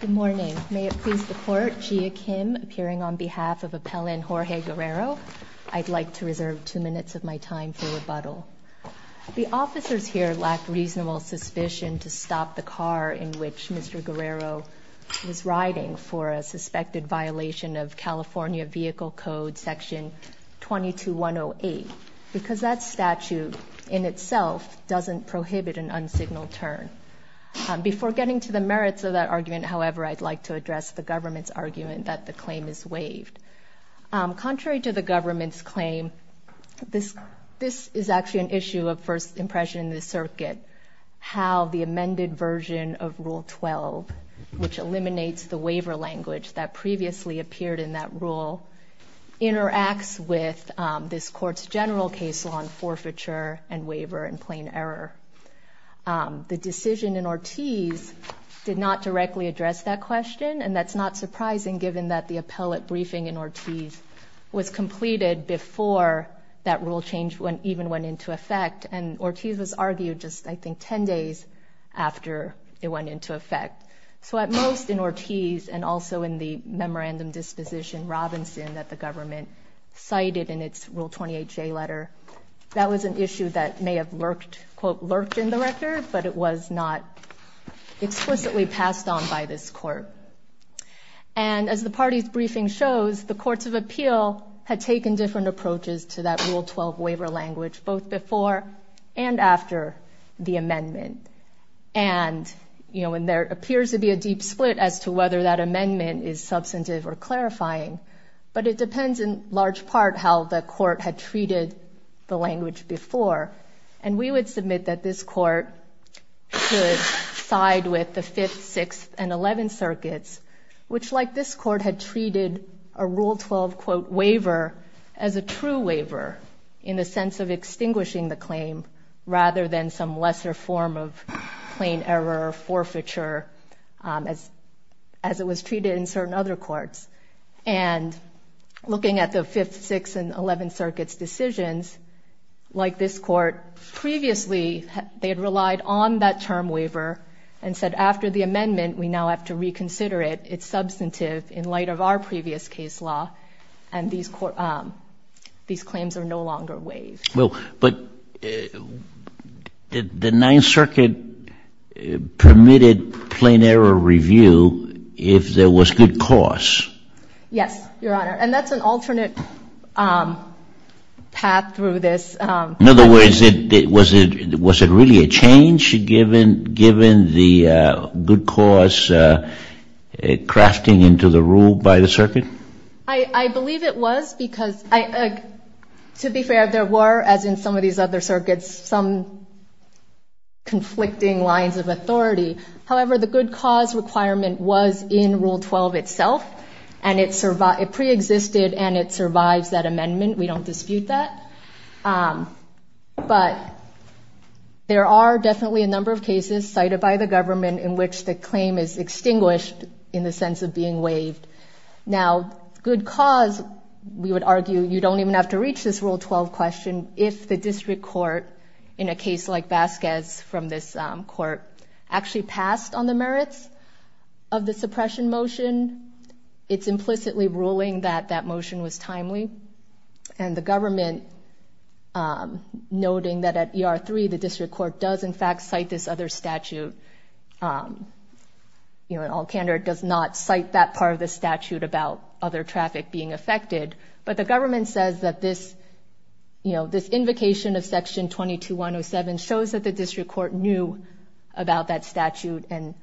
Good morning. May it please the Court, Gia Kim appearing on behalf of Appellant Jorge Guerrero. I'd like to reserve two minutes of my time for rebuttal. The officers here lack reasonable suspicion to stop the car in which Mr. Guerrero was riding for a suspected violation of California Vehicle Code Section 22108 because that statute in itself doesn't prohibit an unsignaled turn. Before getting to the merits of that argument, however, I'd like to address the government's argument that the claim is waived. Contrary to the government's claim, this is actually an issue of first impression in the circuit, how the amended version of Rule 12, which eliminates the waiver language that previously appeared in that rule, interacts with this Court's general case law on forfeiture and waiver in plain error. The decision in Ortiz did not directly address that question, and that's not surprising given that the appellate briefing in Ortiz was completed before that rule change even went into effect, and Ortiz was argued just, I think, 10 days after it went into effect. So at most in Ortiz and also in the memorandum disposition Robinson that the government cited in its Rule 28J letter, that was an issue that may have lurked, quote, lurked in the record, but it was not explicitly passed on by this Court. And as the party's briefing shows, the courts of appeal had taken different approaches to that Rule 12 waiver language both before and after the amendment. And, you know, there appears to be a deep split as to whether that amendment is substantive or clarifying, but it depends in large part how the Court had treated the language before. And we would submit that this Court should side with the Fifth, Sixth, and Eleventh Circuits, which, like this Court, had treated a Rule 12, quote, waiver as a true waiver in the sense of extinguishing the claim rather than some lesser form of plain error or forfeiture as it was treated in certain other courts. And looking at the Fifth, Sixth, and Eleventh Circuits' decisions, like this Court, previously they had relied on that term waiver and said after the amendment we now have to reconsider it. It's substantive in light of our previous case law, and these claims are no longer waived. Well, but the Ninth Circuit permitted plain error review if there was good cause. Yes, Your Honor, and that's an alternate path through this. In other words, was it really a change given the good cause crafting into the rule by the Circuit? I believe it was because, to be fair, there were, as in some of these other circuits, some conflicting lines of authority. However, the good cause requirement was in Rule 12 itself, and it preexisted, and it survives that amendment. We don't dispute that. But there are definitely a number of cases cited by the government in which the claim is extinguished in the sense of being waived. Now, good cause, we would argue, you don't even have to reach this Rule 12 question if the District Court, in a case like Vasquez from this Court, actually passed on the merits of the suppression motion. It's implicitly ruling that that motion was timely. And the government, noting that at ER-3 the District Court does, in fact, cite this other statute, in all candor, does not cite that part of the statute about other traffic being affected. But the government says that this invocation of Section 22-107 shows that the District Court knew about that statute, and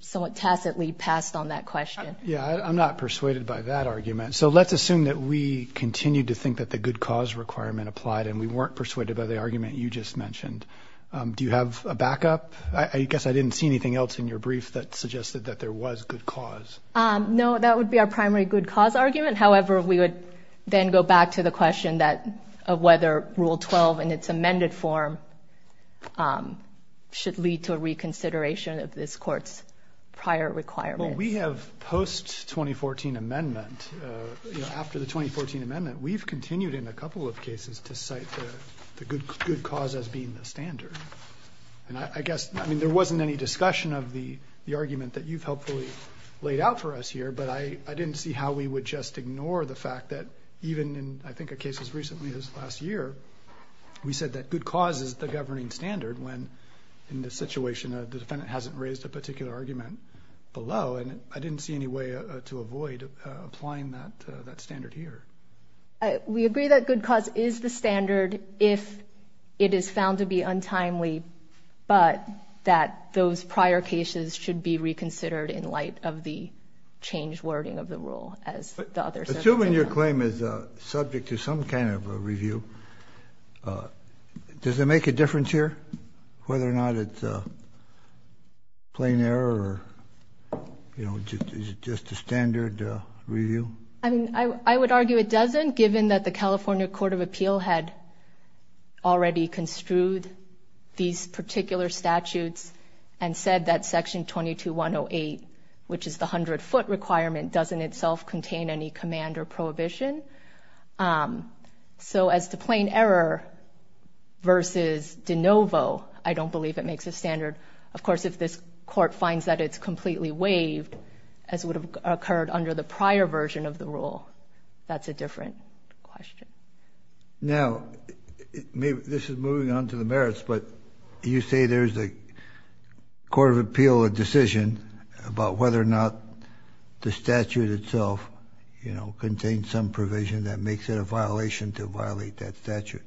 somewhat tacitly passed on that question. Yeah, I'm not persuaded by that argument. So let's assume that we continue to think that the good cause requirement applied, and we weren't persuaded by the argument you just mentioned. Do you have a backup? I guess I didn't see anything else in your brief that suggested that there was good cause. No, that would be our primary good cause argument. However, we would then go back to the question of whether Rule 12 in its amended form should lead to a reconsideration of this Court's prior requirements. Well, we have, post-2014 amendment, after the 2014 amendment, we've continued in a couple of cases to cite the good cause as being the standard. And I guess, I mean, there wasn't any discussion of the argument that you've helpfully laid out for us here, but I didn't see how we would just ignore the fact that even in, I think, a case as recently as last year, we said that good cause is the governing standard when, in this situation, the defendant hasn't raised a particular argument below, and I didn't see any way to avoid applying that standard here. We agree that good cause is the standard if it is found to be untimely, but that those prior cases should be reconsidered in light of the changed wording of the rule, as the others have. Assuming your claim is subject to some kind of a review, does it make a difference here, whether or not it's a plain error or, you know, just a standard review? I mean, I would argue it doesn't, given that the California Court of Appeal had already construed these particular statutes and said that Section 22-108, which is the 100-foot requirement, doesn't itself contain any command or prohibition. So as to plain error versus de novo, I don't believe it makes a standard. Of course, if this Court finds that it's completely waived, as would have occurred under the prior version of the rule, that's a different question. Now, this is moving on to the merits, but you say there's a Court of Appeal decision about whether or not the statute itself, you know, contains some provision that makes it a violation to violate that statute.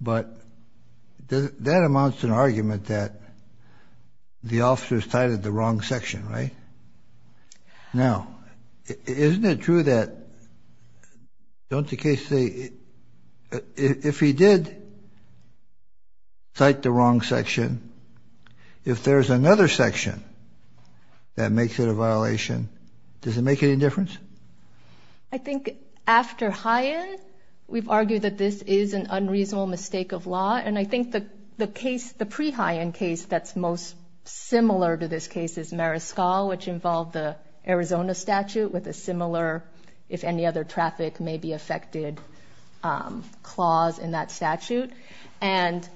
But that amounts to an argument that the officers cited the wrong section, right? Now, isn't it true that, don't the cases say, if he did cite the wrong section, if there's another section that makes it a violation, does it make any difference? I think after High End, we've argued that this is an unreasonable mistake of law, and I think the case, the pre-High End case that's most similar to this case is Mariscal, which involved the Arizona statute with a similar, if any other traffic may be affected, clause in that statute. And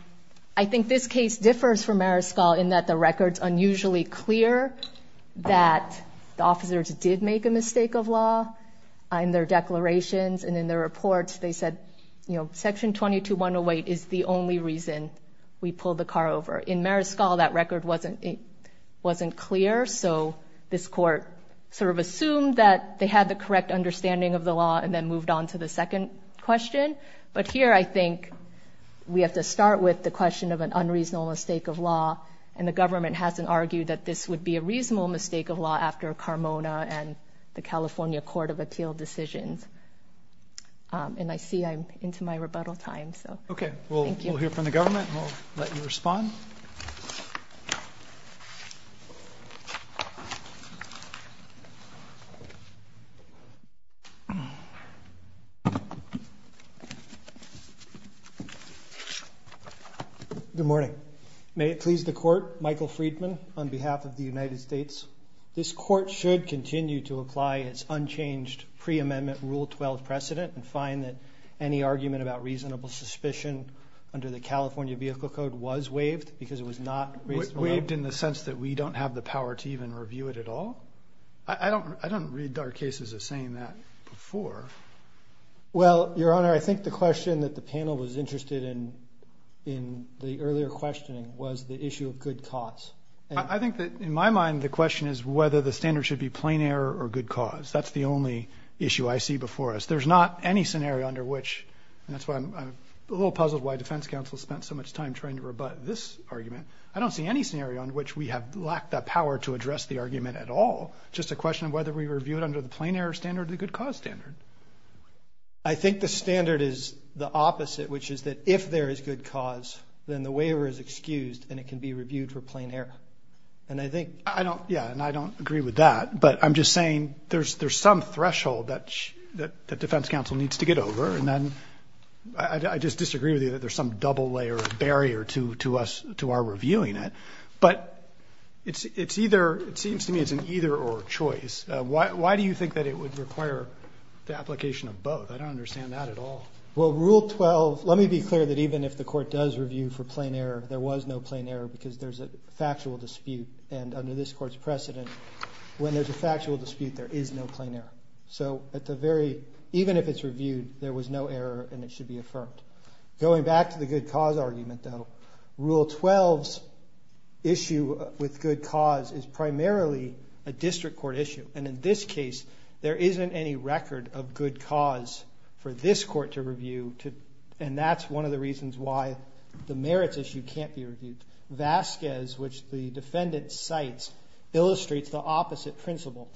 I think this case differs from Mariscal in that the record's unusually clear that the officers did make a mistake of law in their declarations, and in their reports they said, you know, Section 22-108 is the only reason we pulled the car over. In Mariscal, that record wasn't clear, so this Court sort of assumed that they had the correct understanding of the law and then moved on to the second question. But here, I think we have to start with the question of an unreasonable mistake of law, and the government hasn't argued that this would be a reasonable mistake of law after Carmona and the California Court of Appeal decisions. And I see I'm into my rebuttal time, so thank you. Okay, we'll hear from the government and we'll let you respond. Good morning. May it please the Court, Michael Friedman, on behalf of the United States. This Court should continue to apply its unchanged pre-amendment Rule 12 precedent and find that any argument about reasonable suspicion under the California Vehicle Code was waived because it was not... Waived in the sense that we don't have the power to even review it at all? I don't read our cases as saying that before. Well, Your Honor, I think the question that the panel was interested in in the earlier questioning was the issue of good cause. I think that, in my mind, the question is whether the standard should be plain error or good cause. That's the only issue I see before us. There's not any scenario under which, and that's why I'm a little puzzled why defense counsel spent so much time trying to rebut this argument, I don't see any scenario under which we have lacked that power to address the argument at all. Just a question of whether we review it under the plain error standard or the good cause standard. I think the standard is the opposite, which is that if there is good cause, then the waiver is excused and it can be reviewed for plain error. And I think... Yeah, and I don't agree with that, but I'm just saying there's some threshold that defense counsel needs to get over, and I just disagree with you that there's some double-layer barrier to our reviewing it. But it seems to me it's an either-or choice. Why do you think that it would require the application of both? I don't understand that at all. Well, Rule 12, let me be clear that even if the Court does review for plain error, there was no plain error because there's a factual dispute. And under this Court's precedent, when there's a factual dispute, there is no plain error. So even if it's reviewed, there was no error and it should be affirmed. Going back to the good cause argument, though, Rule 12's issue with good cause is primarily a district court issue. And in this case, there isn't any record of good cause for this Court to review, and that's one of the reasons why the merits issue can't be reviewed. Vasquez, which the defendant cites, illustrates the opposite principle.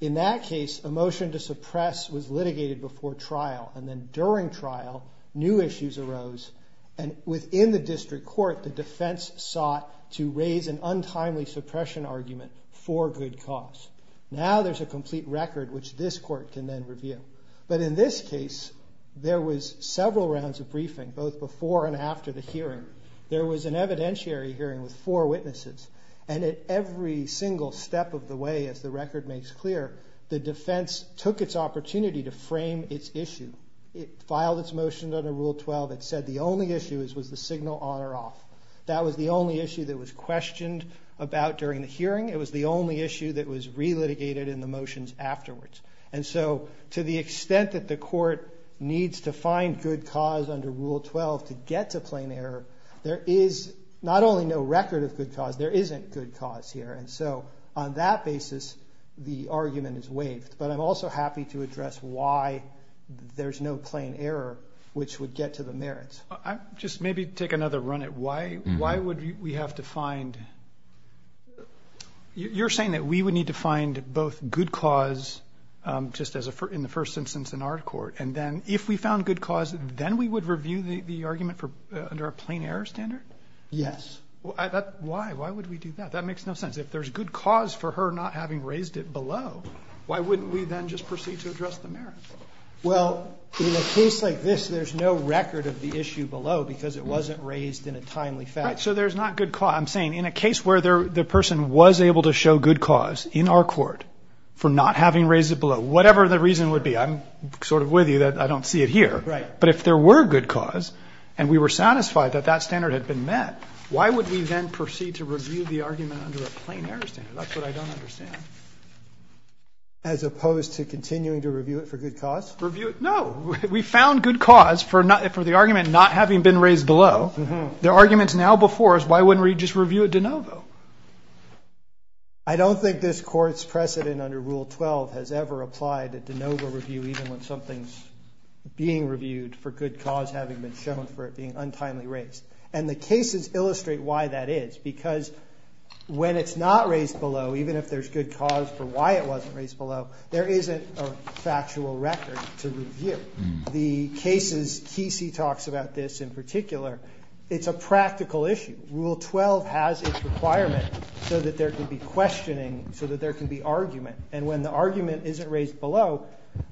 In that case, a motion to suppress was litigated before trial, and then during trial, new issues arose, and within the district court, the defense sought to raise an untimely suppression argument for good cause. Now there's a complete record which this Court can then review. But in this case, there was several rounds of briefing, both before and after the hearing. There was an evidentiary hearing with four witnesses, and at every single step of the way, as the record makes clear, the defense took its opportunity to frame its issue. It filed its motion under Rule 12. It said the only issue was the signal on or off. That was the only issue that was questioned about during the hearing. It was the only issue that was relitigated in the motions afterwards. And so to the extent that the Court needs to find good cause under Rule 12 to get to plain error, there is not only no record of good cause, there isn't good cause here. And so on that basis, the argument is waived. But I'm also happy to address why there's no plain error which would get to the merits. Just maybe take another run at why would we have to find You're saying that we would need to find both good cause, just in the first instance in our court, and then if we found good cause, then we would review the argument under a plain error standard? Yes. Why? Why would we do that? That makes no sense. If there's good cause for her not having raised it below, why wouldn't we then just proceed to address the merits? Well, in a case like this, there's no record of the issue below because it wasn't raised in a timely fashion. Right. So there's not good cause. I'm saying in a case where the person was able to show good cause in our court for not having raised it below, whatever the reason would be. I'm sort of with you that I don't see it here. Right. But if there were good cause and we were satisfied that that standard had been met, why would we then proceed to review the argument under a plain error standard? That's what I don't understand. As opposed to continuing to review it for good cause? No. We found good cause for the argument not having been raised below. The arguments now before us, why wouldn't we just review it de novo? I don't think this court's precedent under Rule 12 has ever applied a de novo review even when something's being reviewed for good cause having been shown for being untimely raised. And the cases illustrate why that is. Because when it's not raised below, even if there's good cause for why it wasn't raised below, there isn't a factual record to review. The cases, Kesey talks about this in particular, it's a practical issue. Rule 12 has its requirement so that there can be questioning, so that there can be argument. And when the argument isn't raised below,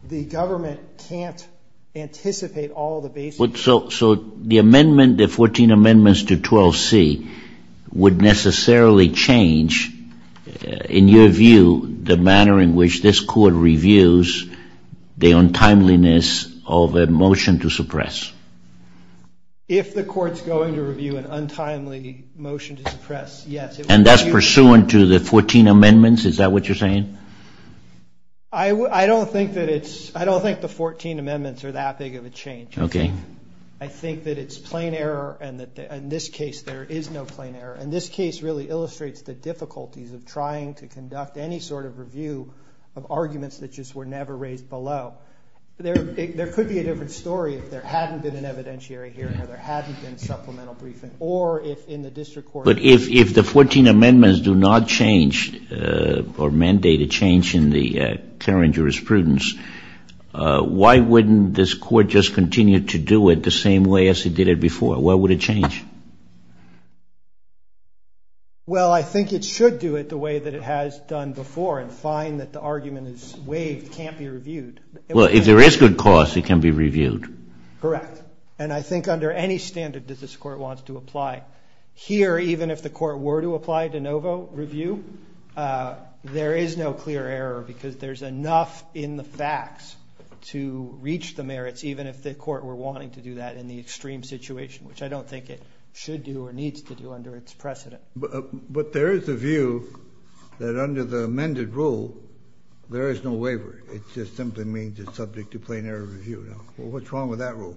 the government can't anticipate all the basics. So the amendment, the 14 amendments to 12C, would necessarily change, in your view, the manner in which this court reviews the untimeliness of a motion to suppress? If the court's going to review an untimely motion to suppress, yes. And that's I don't think the 14 amendments are that big of a change. I think that it's plain error, and in this case there is no plain error. And this case really illustrates the difficulties of trying to conduct any sort of review of arguments that just were never raised below. There could be a different story if there hadn't been an evidentiary hearing or there hadn't been supplemental briefing or if in the district court... But if the 14 amendments do not change or mandate a change in the clarion jurisprudence, why wouldn't this court just continue to do it the same way as it did it before? Why would it change? Well, I think it should do it the way that it has done before and find that the argument is waived, can't be reviewed. Well, if there is good cause, it can be reviewed. Correct. And I think under any standard that this court wants to apply. Here, even if the court were to apply de novo review, there is no clear error because there's enough in the facts to reach the merits, even if the court were wanting to do that in the extreme situation, which I don't think it should do or needs to do under its precedent. But there is a view that under the amended rule, there is no waiver. It just simply means it's subject to plain error review. What's wrong with that rule?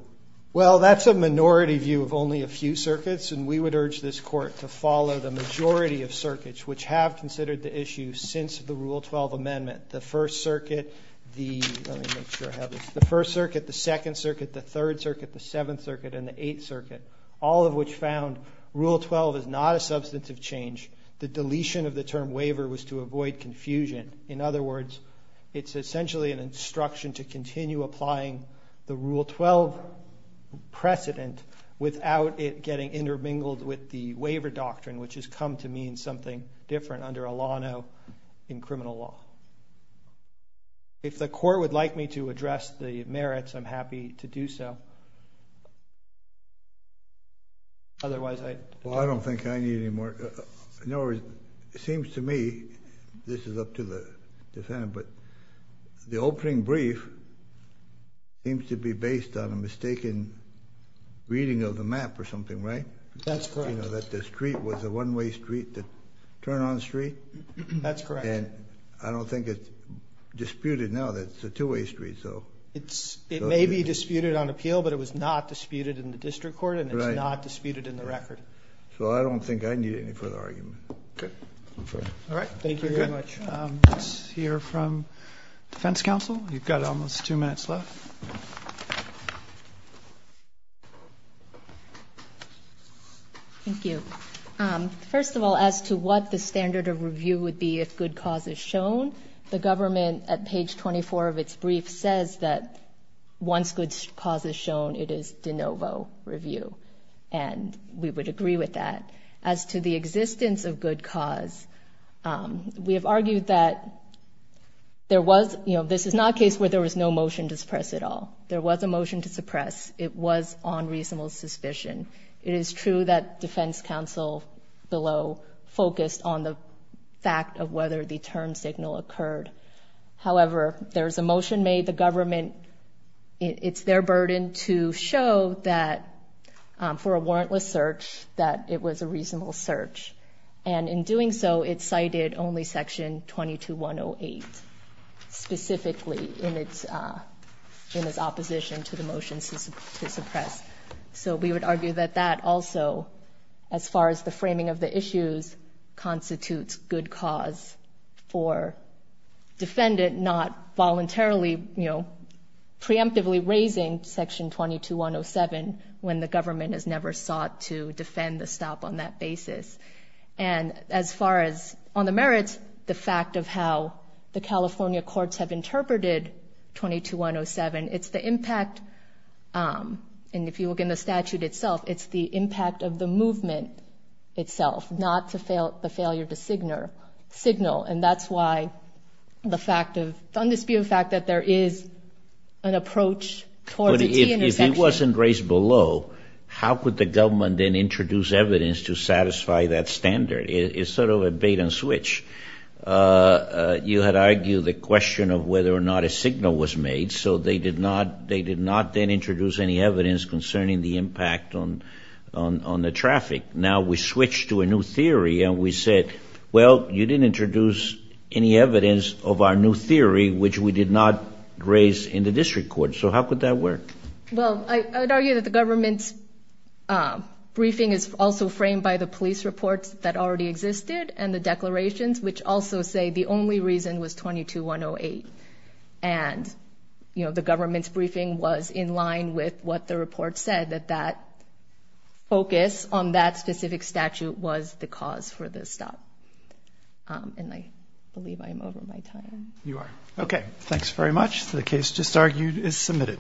Well, that's a minority view of only a few circuits, and we would urge this court to follow the majority of circuits which have considered the issue since the Rule 12 amendment. The First Circuit, the Second Circuit, the Third Circuit, the Seventh Circuit, and the Eighth Circuit, all of which found Rule 12 is not a substantive change. The deletion of the term waiver was to avoid confusion. In other words, it's essentially an instruction to continue applying the Rule 12 precedent without it getting intermingled with the waiver doctrine, which has come to mean something different under a law now in criminal law. If the court would like me to address the merits, I'm happy to do so. Otherwise, I don't think I need any more. In other words, it seems to me, this is up to the defendant, but the opening brief seems to be based on a mistaken reading of the map or something, right? That's correct. That the street was a one-way street that turned on the street? That's correct. And I don't think it's disputed now that it's a two-way street. It may be disputed on appeal, but it was not disputed in the district court and it's not disputed in the record. So I don't think I need any further argument. Okay. All right. Thank you very much. Let's hear from defense counsel. You've got almost two minutes left. Thank you. First of all, as to what the standard of review would be if good cause is shown, the government at page 24 of its brief says that once good cause is shown, it is de novo review. And we would agree with that. As to the existence of good cause, we have argued that this is not a case where there was no motion to suppress at all. There was a motion to suppress. It was on reasonable suspicion. It is true that defense counsel below focused on the fact of whether the term signal occurred. However, there's a motion made the government it's their burden to show that for a warrantless search that it was a reasonable search. And in doing so, it cited only section 22-108 specifically in its opposition to the motion to suppress. So we would argue that that also as far as the framing of the issues constitutes good cause for defendant not voluntarily, you know, preemptively raising section 22-107 when the government has never sought to defend the stop on that basis. And as far as on the merits, the fact of how the California courts have interpreted 22-107, it's the impact of the movement itself, not the failure to signal. And that's why the fact of, the undisputed fact that there is an approach towards a T-intersection. If it wasn't raised below, how could the government then introduce evidence to satisfy that standard? It's sort of a bait and switch. You had argued the question of whether or not a signal was made. So they did not then introduce any evidence concerning the impact on the traffic. Now we switch to a new theory and we said, well, you didn't introduce any evidence of our new theory, which we did not raise in the district court. So how could that work? Well, I would argue that the government's briefing is also framed by the police reports that already existed and the declarations, which also say the only reason was 22-108. And the government's briefing was in line with what the report said, that that focus on that specific statute was the cause for the stop. And I believe I'm over my time. You are. Okay. Thanks very much. The case just argued is submitted.